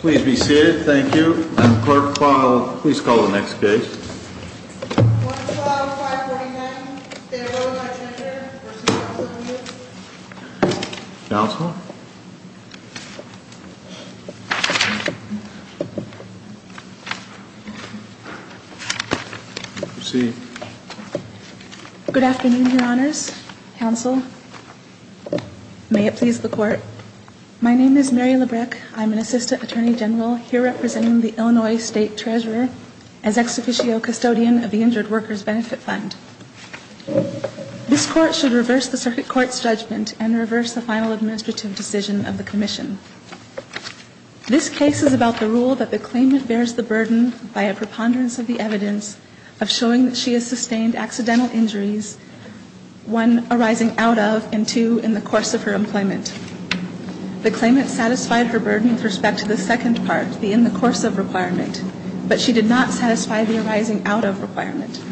Please be seated. Thank you. Clerk, please call the next case. 112-549, State of Illinois Attorney here, v. Charles English. Counsel? Proceed. Good afternoon, Your Honors. Counsel, may it please the Court. My name is Mary Labreck. I'm an Assistant Attorney General here representing the Illinois State Treasurer as Ex Officio Custodian of the Injured Workers' Benefit Fund. This Court should reverse the Circuit Court's judgment and reverse the final administrative decision of the Commission. This case is about the rule that the claimant bears the burden, by a preponderance of the evidence, of showing that she has sustained accidental injuries, one, arising out of, and two, in the course of her employment. The claimant satisfied her burden with respect to the second part, the in-the-course-of requirement, but she did not satisfy the arising-out-of requirement.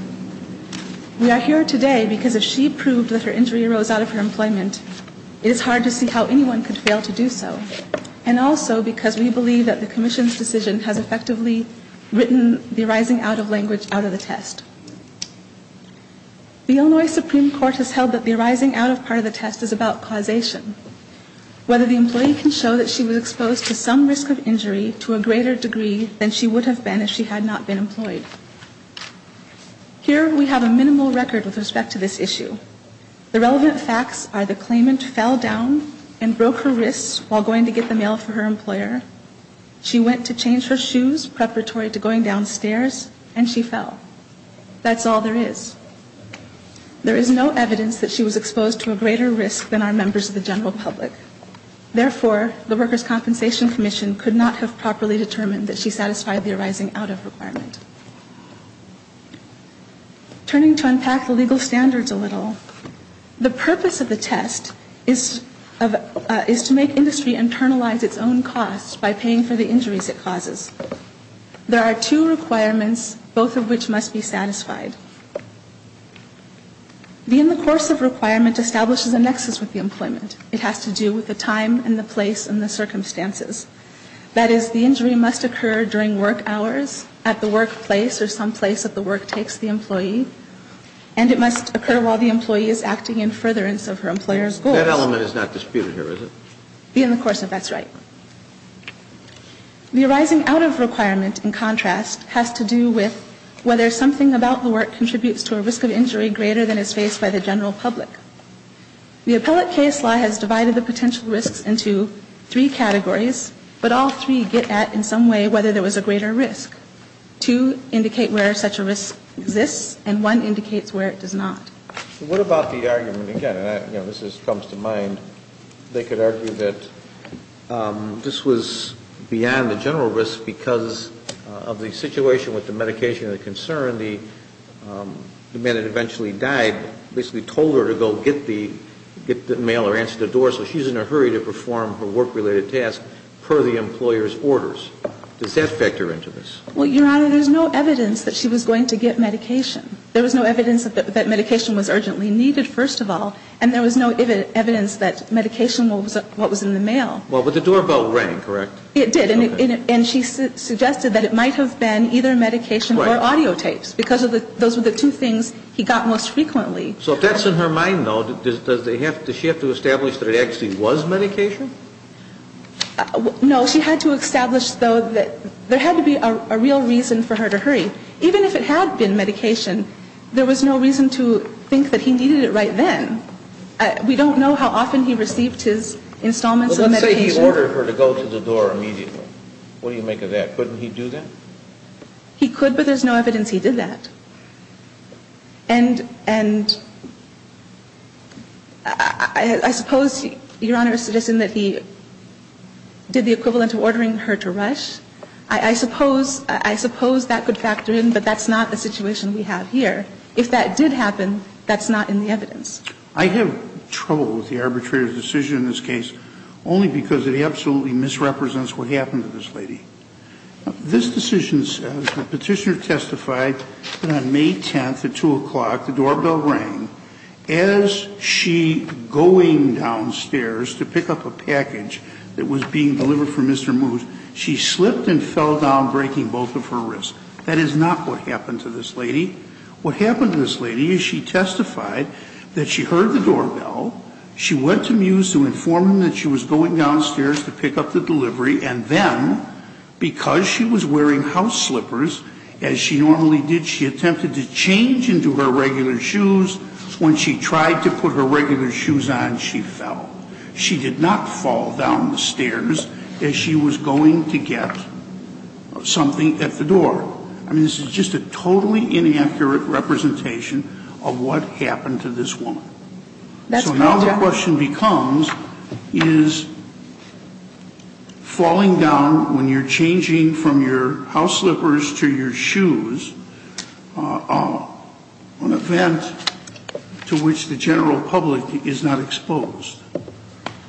We are here today because if she proved that her injury arose out of her employment, it is hard to see how anyone could fail to do so, and also because we believe that the Commission's decision has effectively written the arising-out-of language out of the test. The Illinois Supreme Court has held that the arising-out-of part of the test is about causation, whether the employee can show that she was exposed to some risk of injury to a greater degree than she would have been if she had not been employed. Here we have a minimal record with respect to this issue. The relevant facts are the claimant fell down and broke her wrist while going to get the mail for her employer. She went to change her shoes, preparatory to going downstairs, and she fell. That's all there is. There is no evidence that she was exposed to a greater risk than our members of the general public. Therefore, the Workers' Compensation Commission could not have properly determined that she satisfied the arising-out-of requirement. Turning to unpack the legal standards a little, the purpose of the test is to make industry internalize its own costs by paying for the injuries it causes. There are two requirements, both of which must be satisfied. The in-the-course-of requirement establishes a nexus with the employment. It has to do with the time and the place and the circumstances. That is, the injury must occur during work hours at the workplace or someplace that the work takes the employee, and it must occur while the employee is acting in furtherance of her employer's goals. That element is not disputed here, is it? The in-the-course-of, that's right. The arising-out-of requirement, in contrast, has to do with whether something about the work contributes to a risk of injury greater than is faced by the general public. The appellate case law has divided the potential risks into three categories, but all three get at, in some way, whether there was a greater risk. Two indicate where such a risk exists, and one indicates where it does not. What about the argument, again, and this comes to mind, they could argue that this was beyond the general risk because of the situation with the medication and the concern, the man that eventually died basically told her to go get the mail or answer the door, so she's in a hurry to perform her work-related task per the employer's orders. Does that factor into this? Well, Your Honor, there's no evidence that she was going to get medication. There was no evidence that medication was urgently needed, first of all, and there was no evidence that medication was what was in the mail. Well, but the doorbell rang, correct? It did, and she suggested that it might have been either medication or audio tapes because those were the two things he got most frequently. So if that's in her mind, though, does she have to establish that it actually was medication? No, she had to establish, though, that there had to be a real reason for her to hurry. Even if it had been medication, there was no reason to think that he needed it right then. We don't know how often he received his installments of medication. Well, let's say he ordered her to go to the door immediately. What do you make of that? Couldn't he do that? He could, but there's no evidence he did that. And I suppose, Your Honor, it's just in that he did the equivalent of ordering her to rush. I suppose that could factor in, but that's not the situation we have here. If that did happen, that's not in the evidence. I have trouble with the arbitrator's decision in this case only because it absolutely misrepresents what happened to this lady. This decision, the Petitioner testified that on May 10th at 2 o'clock the doorbell rang. As she was going downstairs to pick up a package that was being delivered for Mr. Moose, she slipped and fell down, breaking both of her wrists. That is not what happened to this lady. What happened to this lady is she testified that she heard the doorbell, she went to Moose to inform him that she was going downstairs to pick up the delivery, and then because she was wearing house slippers, as she normally did, she attempted to change into her regular shoes. When she tried to put her regular shoes on, she fell. She did not fall down the stairs as she was going to get something at the door. I mean, this is just a totally inaccurate representation of what happened to this woman. So now the question becomes, is falling down when you're changing from your house slippers to your shoes an event to which the general public is not exposed?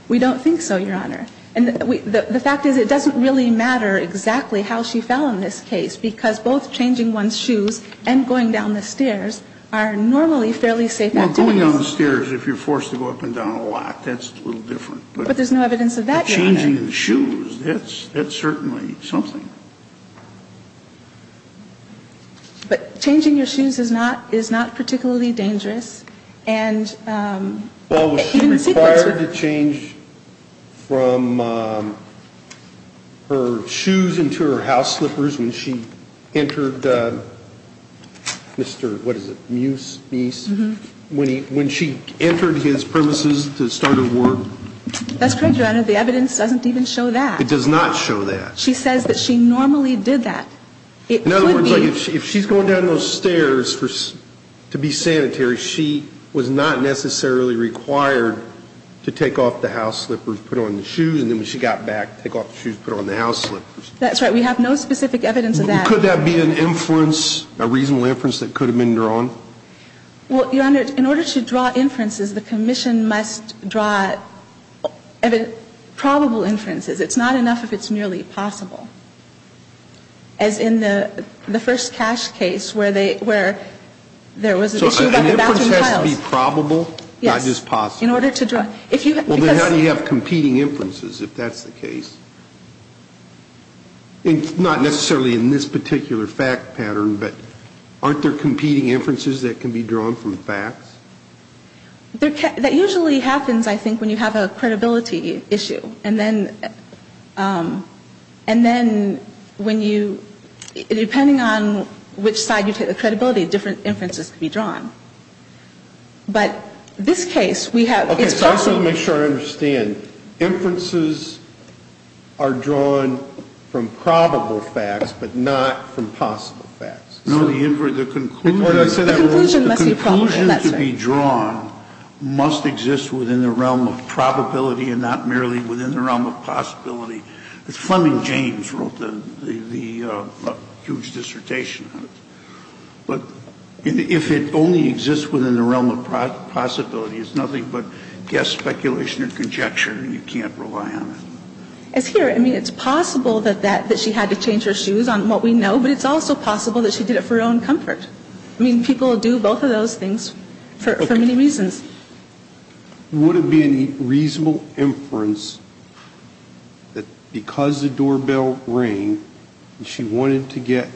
We don't think so, Your Honor. And the fact is it doesn't really matter exactly how she fell in this case, because both changing one's shoes and going down the stairs are normally fairly safe activities. Well, going down the stairs if you're forced to go up and down a lot, that's a little But there's no evidence of that, Your Honor. But changing the shoes, that's certainly something. But changing your shoes is not particularly dangerous. Well, was she required to change from her shoes into her house slippers when she entered Mr. Moose, when she entered his premises to start her work? That's correct, Your Honor. But the evidence doesn't even show that. It does not show that. She says that she normally did that. In other words, if she's going down those stairs to be sanitary, she was not necessarily required to take off the house slippers, put on the shoes, and then when she got back, take off the shoes, put on the house slippers. That's right. We have no specific evidence of that. Could that be an inference, a reasonable inference that could have been drawn? Well, Your Honor, in order to draw inferences, the commission must draw probable inferences. It's not enough if it's merely possible. As in the first cash case where there was an issue about the bathroom tiles. So an inference has to be probable, not just possible? Yes, in order to draw. Well, then how do you have competing inferences, if that's the case? Not necessarily in this particular fact pattern, but aren't there competing inferences that can be drawn from facts? That usually happens, I think, when you have a credibility issue. And then when you, depending on which side you take the credibility, different inferences can be drawn. But this case, we have, it's possible. Okay, so I just want to make sure I understand. Inferences are drawn from probable facts, but not from possible facts. No, the conclusion to be drawn must exist within the realm of probability and not merely within the realm of possibility. But if it only exists within the realm of possibility, it's nothing but guess, speculation, or conjecture, and you can't rely on it. It's here. I mean, it's possible that she had to change her shoes on what we know, but it's also possible that she did it for her own comfort. I mean, people do both of those things for many reasons. Would it be any reasonable inference that because the doorbell rang, she wanted to get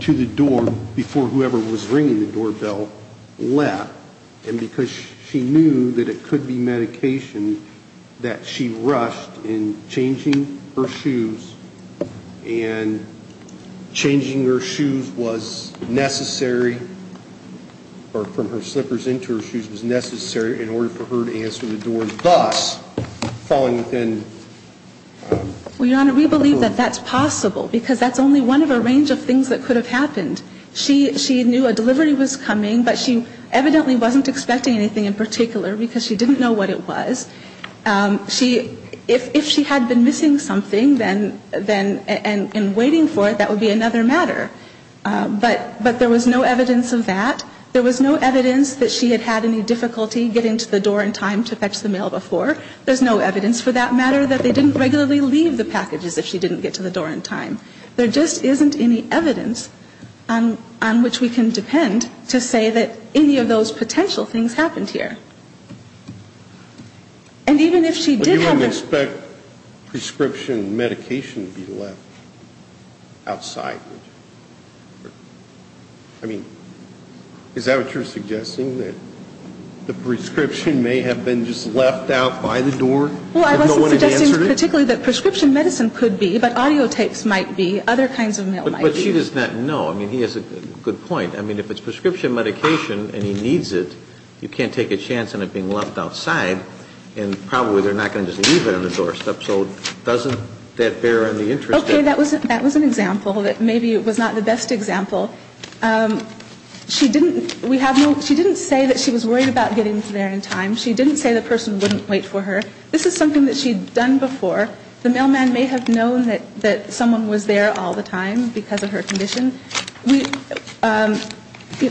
to the door before whoever was ringing the doorbell left, and because she knew that it could be medication, that she rushed in changing her shoes, and changing her shoes was necessary, or from her slippers into her shoes was necessary, in order for her to answer the door, thus falling within... Well, Your Honor, we believe that that's possible, because that's only one of a range of things that could have happened. She knew a delivery was coming, but she evidently wasn't expecting anything in particular, because she didn't know what it was. If she had been missing something, and waiting for it, that would be another matter. But there was no evidence of that. There was no evidence that she had had any difficulty getting to the door in time to fetch the mail before. There's no evidence for that matter that they didn't regularly leave the packages if she didn't get to the door in time. There just isn't any evidence on which we can depend to say that any of those potential things happened here. But you wouldn't expect prescription medication to be left outside, would you? I mean, is that what you're suggesting, that the prescription may have been just left out by the door? Well, I wasn't suggesting particularly that prescription medicine could be, but audiotapes might be, other kinds of mail might be. But she does not know. I mean, he has a good point. I mean, if it's prescription medication, and he needs it, you can't take a chance on it being left outside. And probably they're not going to just leave it on the doorstep. So doesn't that bear any interest? Okay. That was an example that maybe was not the best example. She didn't say that she was worried about getting there in time. She didn't say the person wouldn't wait for her. This is something that she had done before. The mailman may have known that someone was there all the time because of her condition.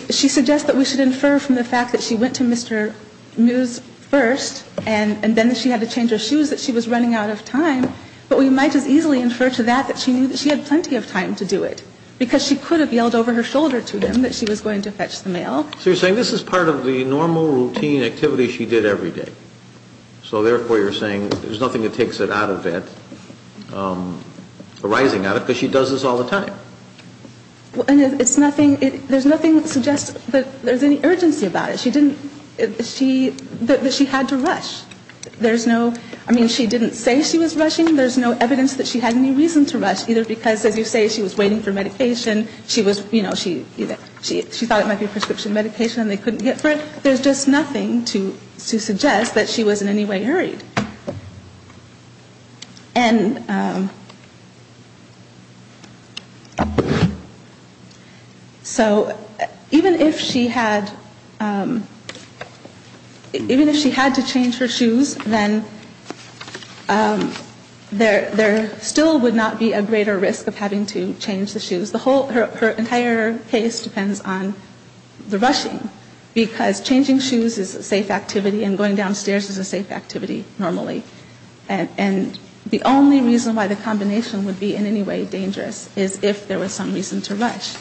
She suggests that we should infer from the fact that she went to Mr. Mews first, and then she had to change her shoes, that she was running out of time. But we might as easily infer to that that she knew that she had plenty of time to do it, because she could have yelled over her shoulder to him that she was going to fetch the mail. So you're saying this is part of the normal routine activity she did every day. So therefore, you're saying there's nothing that takes it out of it, arising out of it, because she does this all the time. And it's nothing – there's nothing that suggests that there's any urgency about it. She didn't – she – that she had to rush. There's no – I mean, she didn't say she was rushing. There's no evidence that she had any reason to rush, either because, as you say, she was waiting for medication. She was – you know, she thought it might be a prescription medication, and they couldn't get for it. There's just nothing to suggest that she was in any way hurried. And so even if she had – even if she had to change her shoes, then there still would not be a greater risk of having to change the shoes. The whole – her entire case depends on the rushing, because changing shoes is a safe activity, and going downstairs is a safe activity normally. And the only reason why the combination would be in any way dangerous is if there was some reason to rush.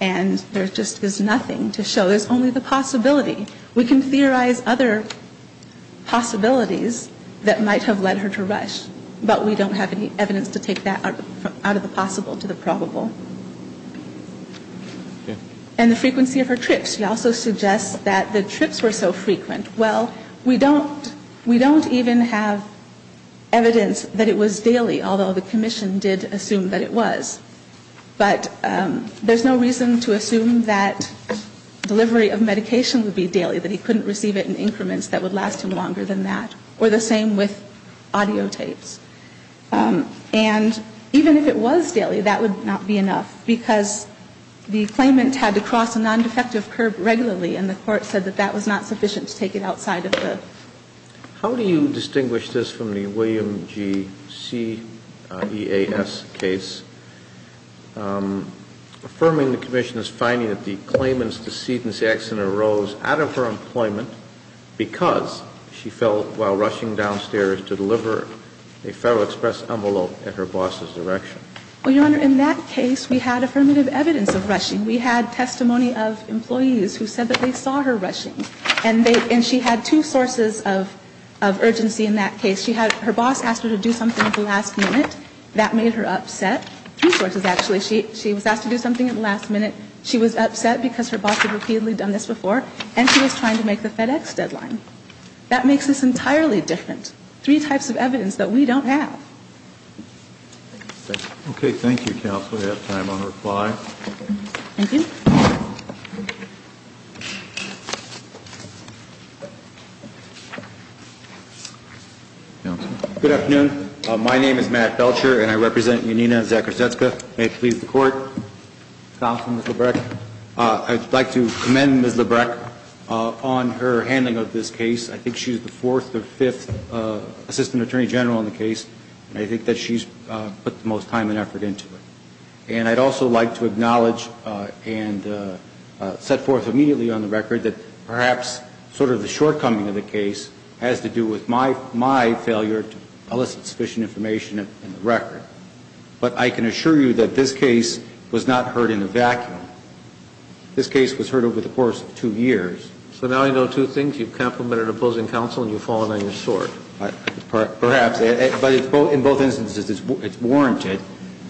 And there just is nothing to show. There's only the possibility. We can theorize other possibilities that might have led her to rush, but we don't have any evidence to take that out of the possible to the probable. And the frequency of her trips. She also suggests that the trips were so frequent. Well, we don't – we don't even have evidence that it was daily, although the commission did assume that it was. But there's no reason to assume that delivery of medication would be daily, that he couldn't receive it in increments that would last him longer than that, or the same with audio tapes. And even if it was daily, that would not be enough, because the claimant had to cross a non-defective curb regularly, and the court said that that was not sufficient to take it outside of the – How do you distinguish this from the William G. C. E. A. S. case? Affirming the commission's finding that the claimant's decedent's accident arose out of her employment because she fell while rushing downstairs to deliver a Federal Express envelope at her boss's direction. Well, Your Honor, in that case, we had affirmative evidence of rushing. We had testimony of employees who said that they saw her rushing, and they – and she had two sources of urgency in that case. She had – her boss asked her to do something at the last minute. That made her upset. Two sources, actually. She was asked to do something at the last minute. She was upset because her boss had repeatedly done this before, and she was trying to make the FedEx deadline. That makes this entirely different. Three types of evidence that we don't have. Okay. Thank you, counsel. We have time on reply. Thank you. Counsel. My name is Matt Belcher, and I represent Yanina Zakrzewska. May it please the Court. Counsel, Ms. Lebrecht. I'd like to commend Ms. Lebrecht on her handling of this case. I think she's the fourth or fifth assistant attorney general in the case, and I think that she's put the most time and effort into it. And I'd also like to acknowledge and set forth immediately on the record that perhaps sort of the shortcoming of the case has to do with my failure to elicit sufficient information in the record. But I can assure you that this case was not heard in a vacuum. This case was heard over the course of two years. So now I know two things. You've complimented opposing counsel and you've fallen on your sword. Perhaps. But in both instances, it's warranted.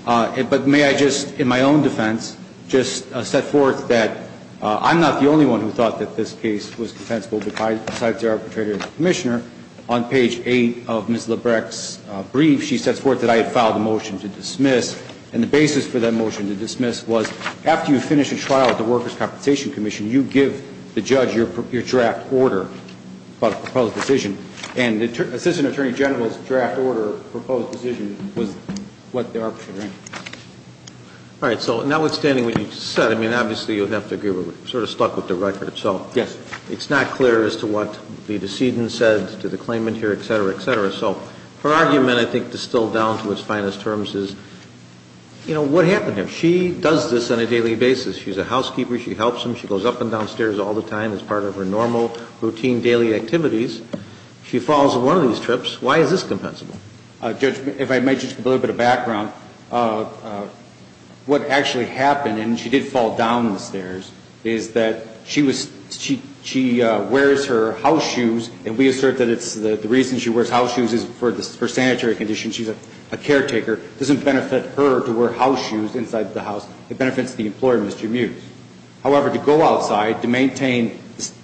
But may I just, in my own defense, just set forth that I'm not the only one who thought that this case was defensible, besides the arbitrator and the commissioner. On page 8 of Ms. Lebrecht's brief, she sets forth that I had filed a motion to dismiss, and the basis for that motion to dismiss was after you finish a trial at the Workers' Compensation Commission, you give the judge your draft order about a proposed decision. And the assistant attorney general's draft order, proposed decision, was what the arbitrator asked. All right. So notwithstanding what you said, I mean, obviously you'd have to agree we're sort of stuck with the record. Yes. It's not clear as to what the decedent said to the claimant here, et cetera, et cetera. So her argument, I think, distilled down to its finest terms is, you know, what happened here? She does this on a daily basis. She's a housekeeper. She helps him. She goes up and down stairs all the time as part of her normal routine daily activities. She falls on one of these trips. Why is this compensable? Judge, if I may, just a little bit of background. What actually happened, and she did fall down the stairs, is that she wears her house shoes, and we assert that the reason she wears house shoes is for sanitary conditions. She's a caretaker. It doesn't benefit her to wear house shoes inside the house. It benefits the employer, Mr. Mews. However, to go outside to maintain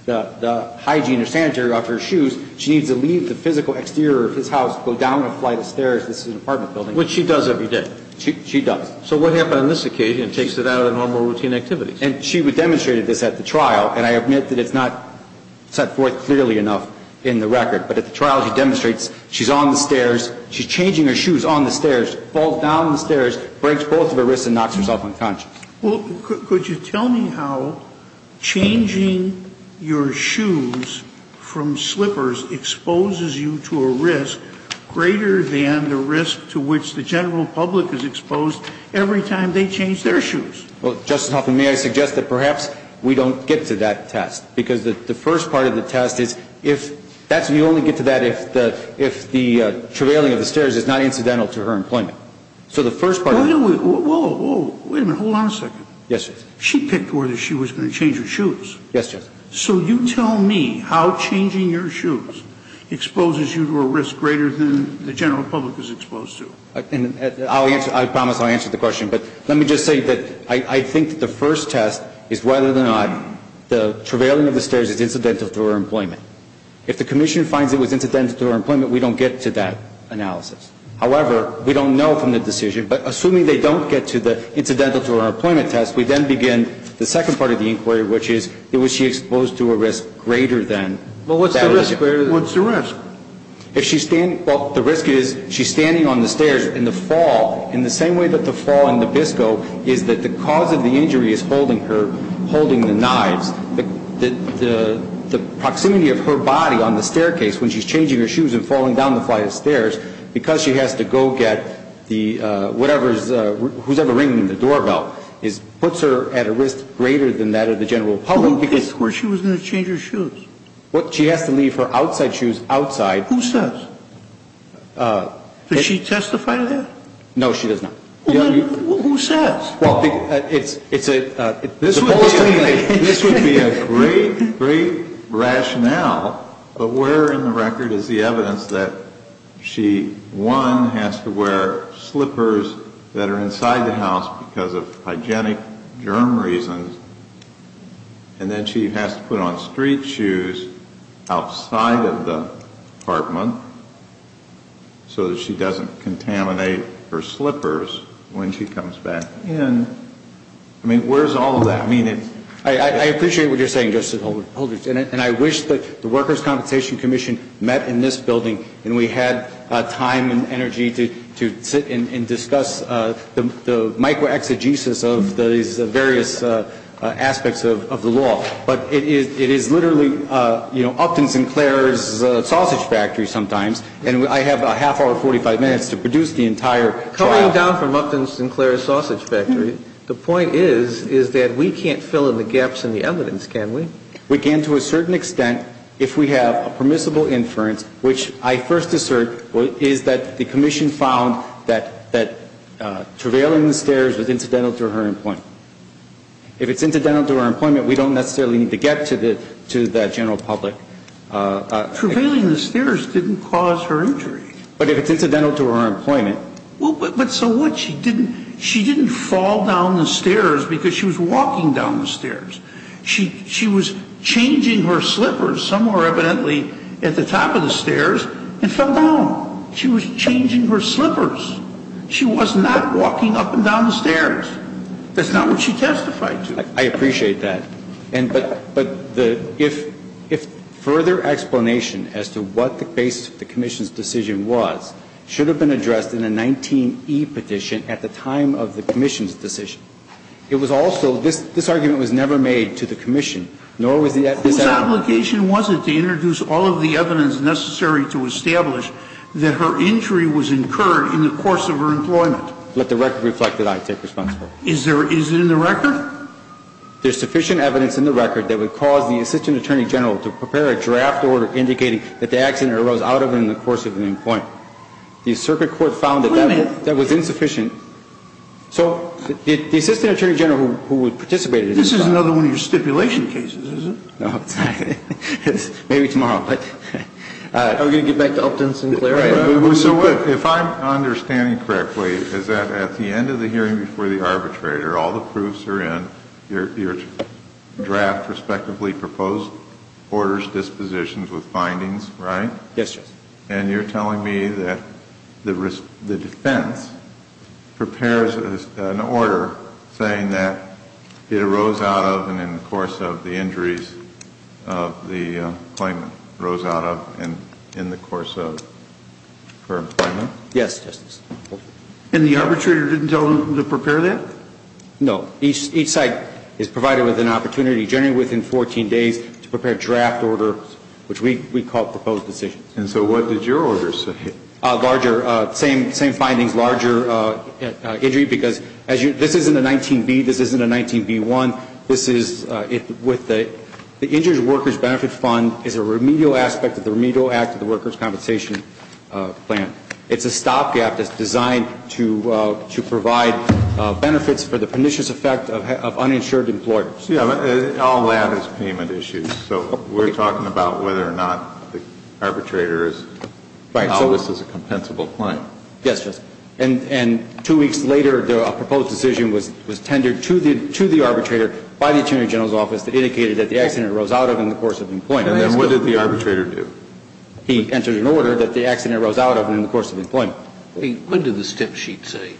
the hygiene or sanitary of her shoes, she needs to leave the physical exterior of his house, go down a flight of stairs. This is an apartment building. Which she does every day. She does. So what happened on this occasion? It takes it out of the normal routine activities. And she demonstrated this at the trial, and I admit that it's not set forth clearly enough in the record. But at the trial, she demonstrates she's on the stairs. She's changing her shoes on the stairs, falls down the stairs, breaks both of her wrists, and knocks herself unconscious. Well, could you tell me how changing your shoes from slippers exposes you to a risk greater than the risk to which the general public is exposed every time they change their shoes? Well, Justice Hoffman, may I suggest that perhaps we don't get to that test? Because the first part of the test is if that's the only get to that if the travailing of the stairs is not incidental to her employment. So the first part of the test is... Wait a minute. Whoa, whoa. Wait a minute. Hold on a second. Yes, Justice. She picked whether she was going to change her shoes. Yes, Justice. So you tell me how changing your shoes exposes you to a risk greater than the general public is exposed to. I'll answer. I promise I'll answer the question. But let me just say that I think the first test is whether or not the travailing of the stairs is incidental to her employment. If the commission finds it was incidental to her employment, we don't get to that analysis. However, we don't know from the decision, but assuming they don't get to the incidental to her employment test, we then begin the second part of the inquiry, which is was she exposed to a risk greater than... Well, what's the risk? What's the risk? Well, the risk is she's standing on the stairs in the fall in the same way that the fall in Nabisco is that the cause of the injury is holding her, holding the knives. The proximity of her body on the staircase when she's changing her shoes and falling down the flight of stairs, because she has to go get the whatever's, who's ever ringing the doorbell, puts her at a risk greater than that of the general public. Where she was going to change her shoes? She has to leave her outside shoes outside. Who says? Does she testify to that? No, she does not. Who says? Well, it's a... This would be a great, great rationale, but where in the record is the evidence that she, one, has to wear slippers that are inside the house because of hygienic germ reasons, and then she has to put on street shoes outside of the apartment so that she doesn't contaminate her slippers when she comes back in? I mean, where's all of that meaning? I appreciate what you're saying, Justice Holder. And I wish that the Workers' Compensation Commission met in this building and we had time and energy to sit and discuss the micro-exegesis of these various aspects of the law. But it is literally, you know, Upton Sinclair's sausage factory sometimes, and I have a half hour, 45 minutes to produce the entire... Coming down from Upton Sinclair's sausage factory, the point is, is that we can't fill in the gaps in the evidence, can we? We can to a certain extent if we have a permissible inference, which I first assert is that the commission found that travailing the stairs was incidental to her employment. If it's incidental to her employment, we don't necessarily need to get to the general public. Travailing the stairs didn't cause her injury. But if it's incidental to her employment... But so what? She didn't fall down the stairs because she was walking down the stairs. She was changing her slippers somewhere evidently at the top of the stairs and fell down. She was changing her slippers. She was not walking up and down the stairs. That's not what she testified to. I appreciate that. But if further explanation as to what the basis of the commission's decision was should have been addressed in a 19E petition at the time of the commission's decision. It was also, this argument was never made to the commission, nor was this evidence... Whose obligation was it to introduce all of the evidence necessary to establish that her injury was incurred in the course of her employment? Let the record reflect that I take responsibility. Is there, is it in the record? There's sufficient evidence in the record that would cause the assistant attorney general to prepare a draft order indicating that the accident arose out of her in the course of her employment. The circuit court found that that was insufficient. So the assistant attorney general who participated... This is another one of your stipulation cases, is it? No, it's not. Maybe tomorrow. Are we going to get back to Upton Sinclair? If I'm understanding correctly, is that at the end of the hearing before the arbitrator, all the proofs are in, your draft respectively proposed orders, dispositions with findings, right? Yes, Justice. And you're telling me that the defense prepares an order saying that it arose out of and in the course of the injuries of the claimant, arose out of and in the course of her employment? Yes, Justice. And the arbitrator didn't tell them to prepare that? No. Each site is provided with an opportunity generally within 14 days to prepare a draft order, which we call proposed decisions. And so what did your order say? Larger. Same findings, larger injury, because this isn't a 19B, this isn't a 19B1. This is with the injured workers benefit fund is a remedial aspect of the remedial act of the workers compensation plan. It's a stopgap that's designed to provide benefits for the pernicious effect of uninsured employers. All that is payment issues. So we're talking about whether or not the arbitrator is, this is a compensable claim. Yes, Justice. And two weeks later, a proposed decision was tendered to the arbitrator by the attorney general's office that indicated that the accident arose out of and in the course of employment. And what did the arbitrator do? He entered an order that the accident arose out of and in the course of employment. What did the step sheet say?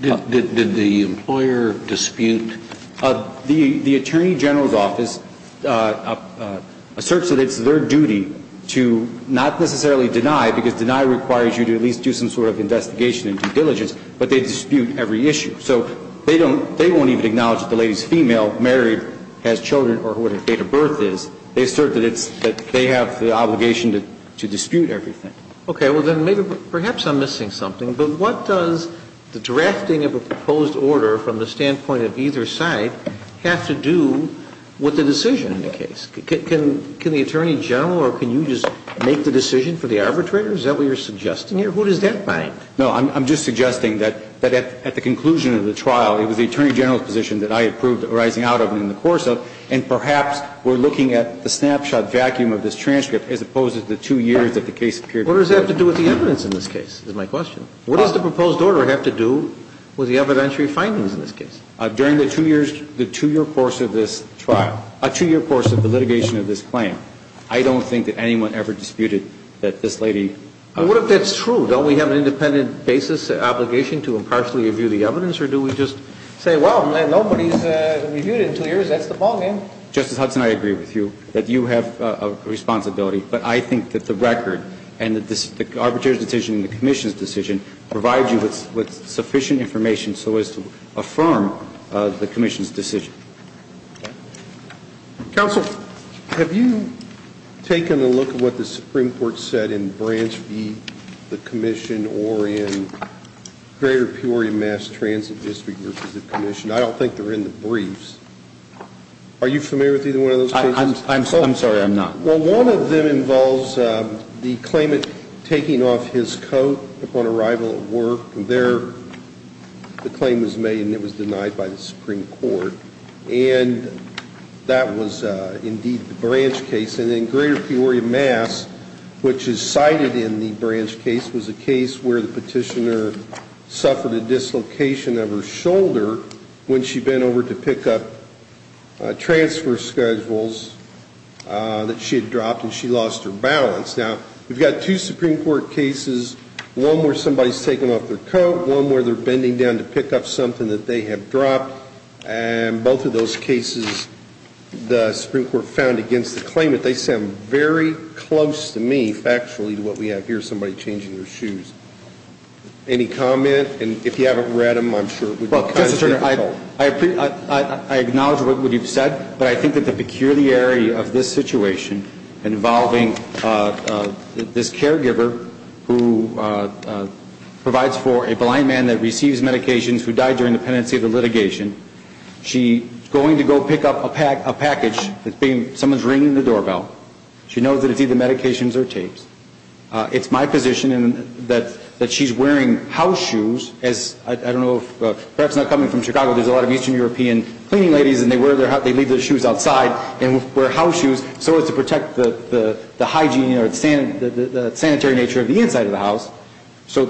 Did the employer dispute? The attorney general's office asserts that it's their duty to not necessarily deny, because deny requires you to at least do some sort of investigation and due diligence, but they dispute every issue. So they won't even acknowledge that the lady's female, married, has children or what her date of birth is. They assert that they have the obligation to dispute everything. Okay. Well, then maybe perhaps I'm missing something. But what does the drafting of a proposed order from the standpoint of either side have to do with the decision in the case? Can the attorney general or can you just make the decision for the arbitrator? Is that what you're suggesting here? Who does that bind? No, I'm just suggesting that at the conclusion of the trial, it was the attorney general's position that I had proved arising out of and in the course of, and perhaps we're looking at the snapshot vacuum of this transcript as opposed to the two years that the case appeared. What does that have to do with the evidence in this case is my question. What does the proposed order have to do with the evidentiary findings in this case? During the two years, the two-year course of this trial, a two-year course of the litigation of this claim, I don't think that anyone ever disputed that this lady. What if that's true? Don't we have an independent basis obligation to impartially review the evidence, or do we just say, well, nobody's reviewed it in two years. That's the ballgame. Well, Justice Hudson, I agree with you that you have a responsibility. But I think that the record and the arbitrator's decision and the commission's decision provide you with sufficient information so as to affirm the commission's decision. Counsel, have you taken a look at what the Supreme Court said in Branch v. the commission or in Greater Peoria Mass Transit District v. the commission? I don't think they're in the briefs. Are you familiar with either one of those cases? I'm sorry, I'm not. Well, one of them involves the claimant taking off his coat upon arrival at work. And there the claim was made, and it was denied by the Supreme Court. And that was indeed the Branch case. And then Greater Peoria Mass, which is cited in the Branch case, was a case where the petitioner suffered a dislocation of her shoulder when she bent over to pick up transfer schedules that she had dropped and she lost her balance. Now, we've got two Supreme Court cases, one where somebody's taken off their coat, one where they're bending down to pick up something that they have dropped. And both of those cases the Supreme Court found against the claimant. They sound very close to me, factually, to what we have here, somebody changing their shoes. Any comment? And if you haven't read them, I'm sure it would be kind of difficult. Well, I acknowledge what you've said, but I think that the peculiarity of this situation involving this caregiver who provides for a blind man that receives medications who died during the pendency of the litigation, she's going to go pick up a package, someone's ringing the doorbell. She knows that it's either medications or tapes. It's my position that she's wearing house shoes as, I don't know, perhaps not coming from Chicago, there's a lot of Eastern European cleaning ladies and they leave their shoes outside and wear house shoes so as to protect the hygiene or the sanitary nature of the inside of the house. So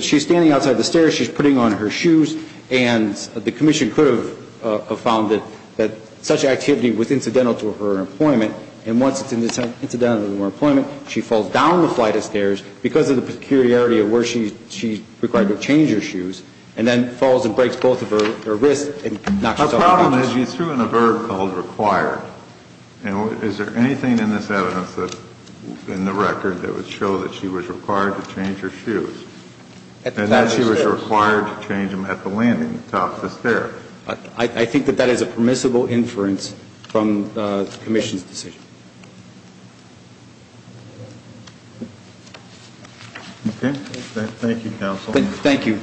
she's standing outside the stairs, she's putting on her shoes, and the commission could have found that such activity was incidental to her employment. And once it's incidental to her employment, she falls down the flight of stairs because of the peculiarity of where she's required to change her shoes and then falls and breaks both of her wrists and knocks herself to the floor. The problem is you threw in a verb called required. Is there anything in this evidence, in the record, that would show that she was required to change her shoes and that she was required to change them at the landing, at the top of the stairs? I think that that is a permissible inference from the commission's decision. Okay. Thank you, counsel. Thank you.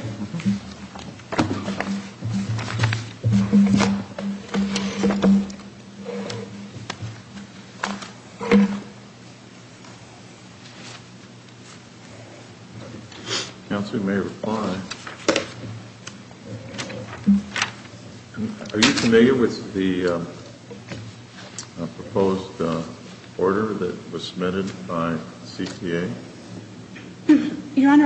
Counsel may reply. Are you familiar with the proposed order that was submitted by CTA? Your Honor,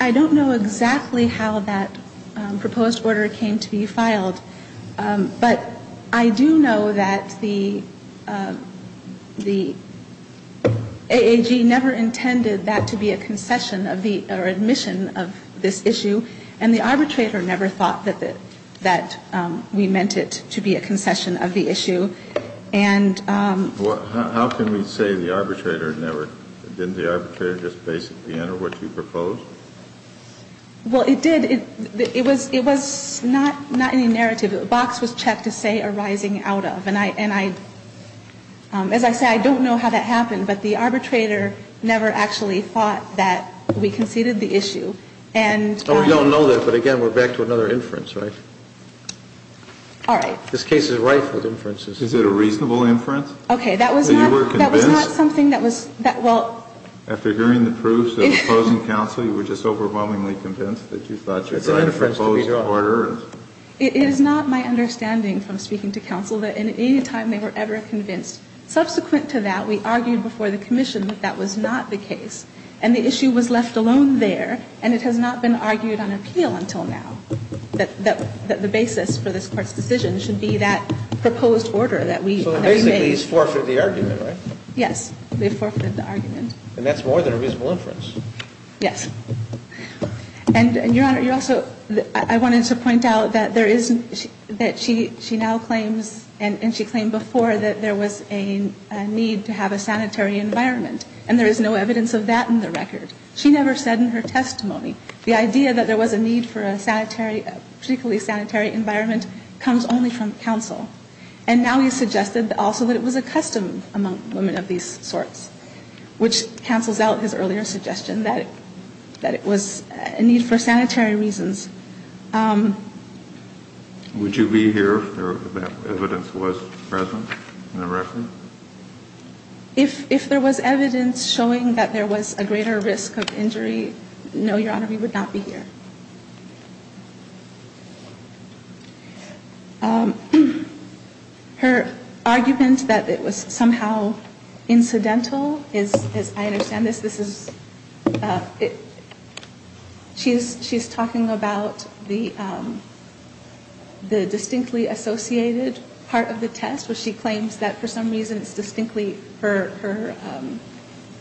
I don't know exactly how that proposed order came to be filed. But I do know that the AAG never intended that to be a concession of the, or admission of this issue. And the arbitrator never thought that we meant it to be a concession of the issue. How can we say the arbitrator never? Didn't the arbitrator just basically enter what you proposed? Well, it did. It was not in the narrative. The box was checked to say arising out of. And I, as I say, I don't know how that happened. But the arbitrator never actually thought that we conceded the issue. And we don't know that. But, again, we're back to another inference, right? All right. This case is rife with inferences. Is it a reasonable inference? Okay. That was not. That was not something that was. Well. After hearing the proofs of opposing counsel, you were just overwhelmingly convinced that you thought you had a proposed order? It is not my understanding from speaking to counsel that at any time they were ever convinced. Subsequent to that, we argued before the commission that that was not the case. And the issue was left alone there. And it has not been argued on appeal until now that the basis for this Court's decision should be that proposed order that we made. So basically these forfeited the argument, right? Yes. They forfeited the argument. And that's more than a reasonable inference. Yes. And, Your Honor, you also, I wanted to point out that there is, that she now claims and she claimed before that there was a need to have a sanitary environment. And there is no evidence of that in the record. She never said in her testimony the idea that there was a need for a sanitary, particularly sanitary environment comes only from counsel. And now you suggested also that it was a custom among women of these sorts, which cancels out his earlier suggestion that it was a need for sanitary reasons. Would you be here if that evidence was present in the record? If there was evidence showing that there was a greater risk of injury, no, Your Honor, we would not be here. Her argument that it was somehow incidental is, I understand this, this is, she's talking about the distinctly associated part of the test where she claims that for some reason it's distinctly, her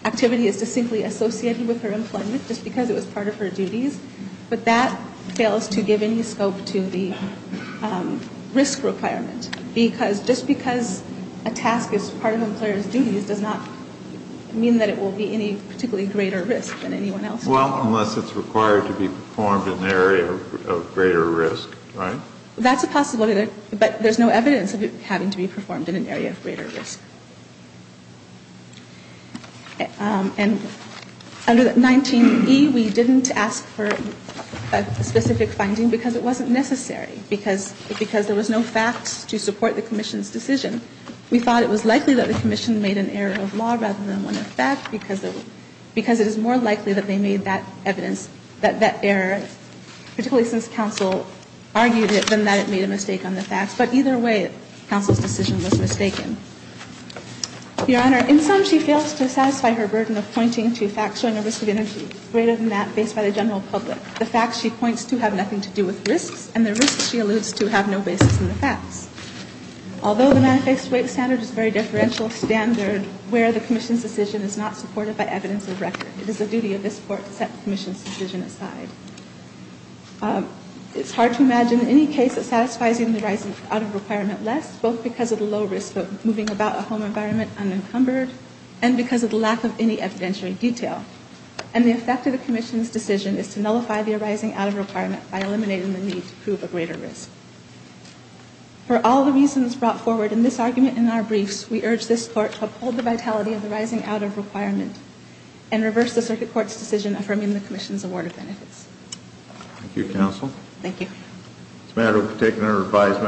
activity is distinctly associated with her employment just because it was part of her duties. But that fails to give any scope to the risk requirement. Because just because a task is part of an employer's duties does not mean that it will be any particularly greater risk than anyone else. Well, unless it's required to be performed in an area of greater risk, right? That's a possibility, but there's no evidence of it having to be performed in an area of greater risk. And under 19E, we didn't ask for a specific finding because it wasn't necessary, because there was no facts to support the commission's decision. We thought it was likely that the commission made an error of law rather than one of fact, because it is more likely that they made that evidence, that that error, particularly since counsel argued it, than that it made a mistake on the facts. But either way, counsel's decision was mistaken. Your Honor, in sum, she fails to satisfy her burden of pointing to facts showing a risk of injury greater than that based by the general public. The facts she points to have nothing to do with risks, and the risks she alludes to have no basis in the facts. Although the manifest weight standard is a very differential standard where the commission's decision is not supported by evidence of record, it is the duty of this court to set the commission's decision aside. It's hard to imagine any case that satisfies even the rise out of requirement less, both because of the low risk of moving about a home environment unencumbered and because of the lack of any evidentiary detail. And the effect of the commission's decision is to nullify the rising out of requirement by eliminating the need to prove a greater risk. For all the reasons brought forward in this argument in our briefs, we urge this court to uphold the vitality of the rising out of requirement and reverse the circuit court's decision affirming the commission's award of benefits. Thank you, counsel. Thank you. This matter will be taken under revised.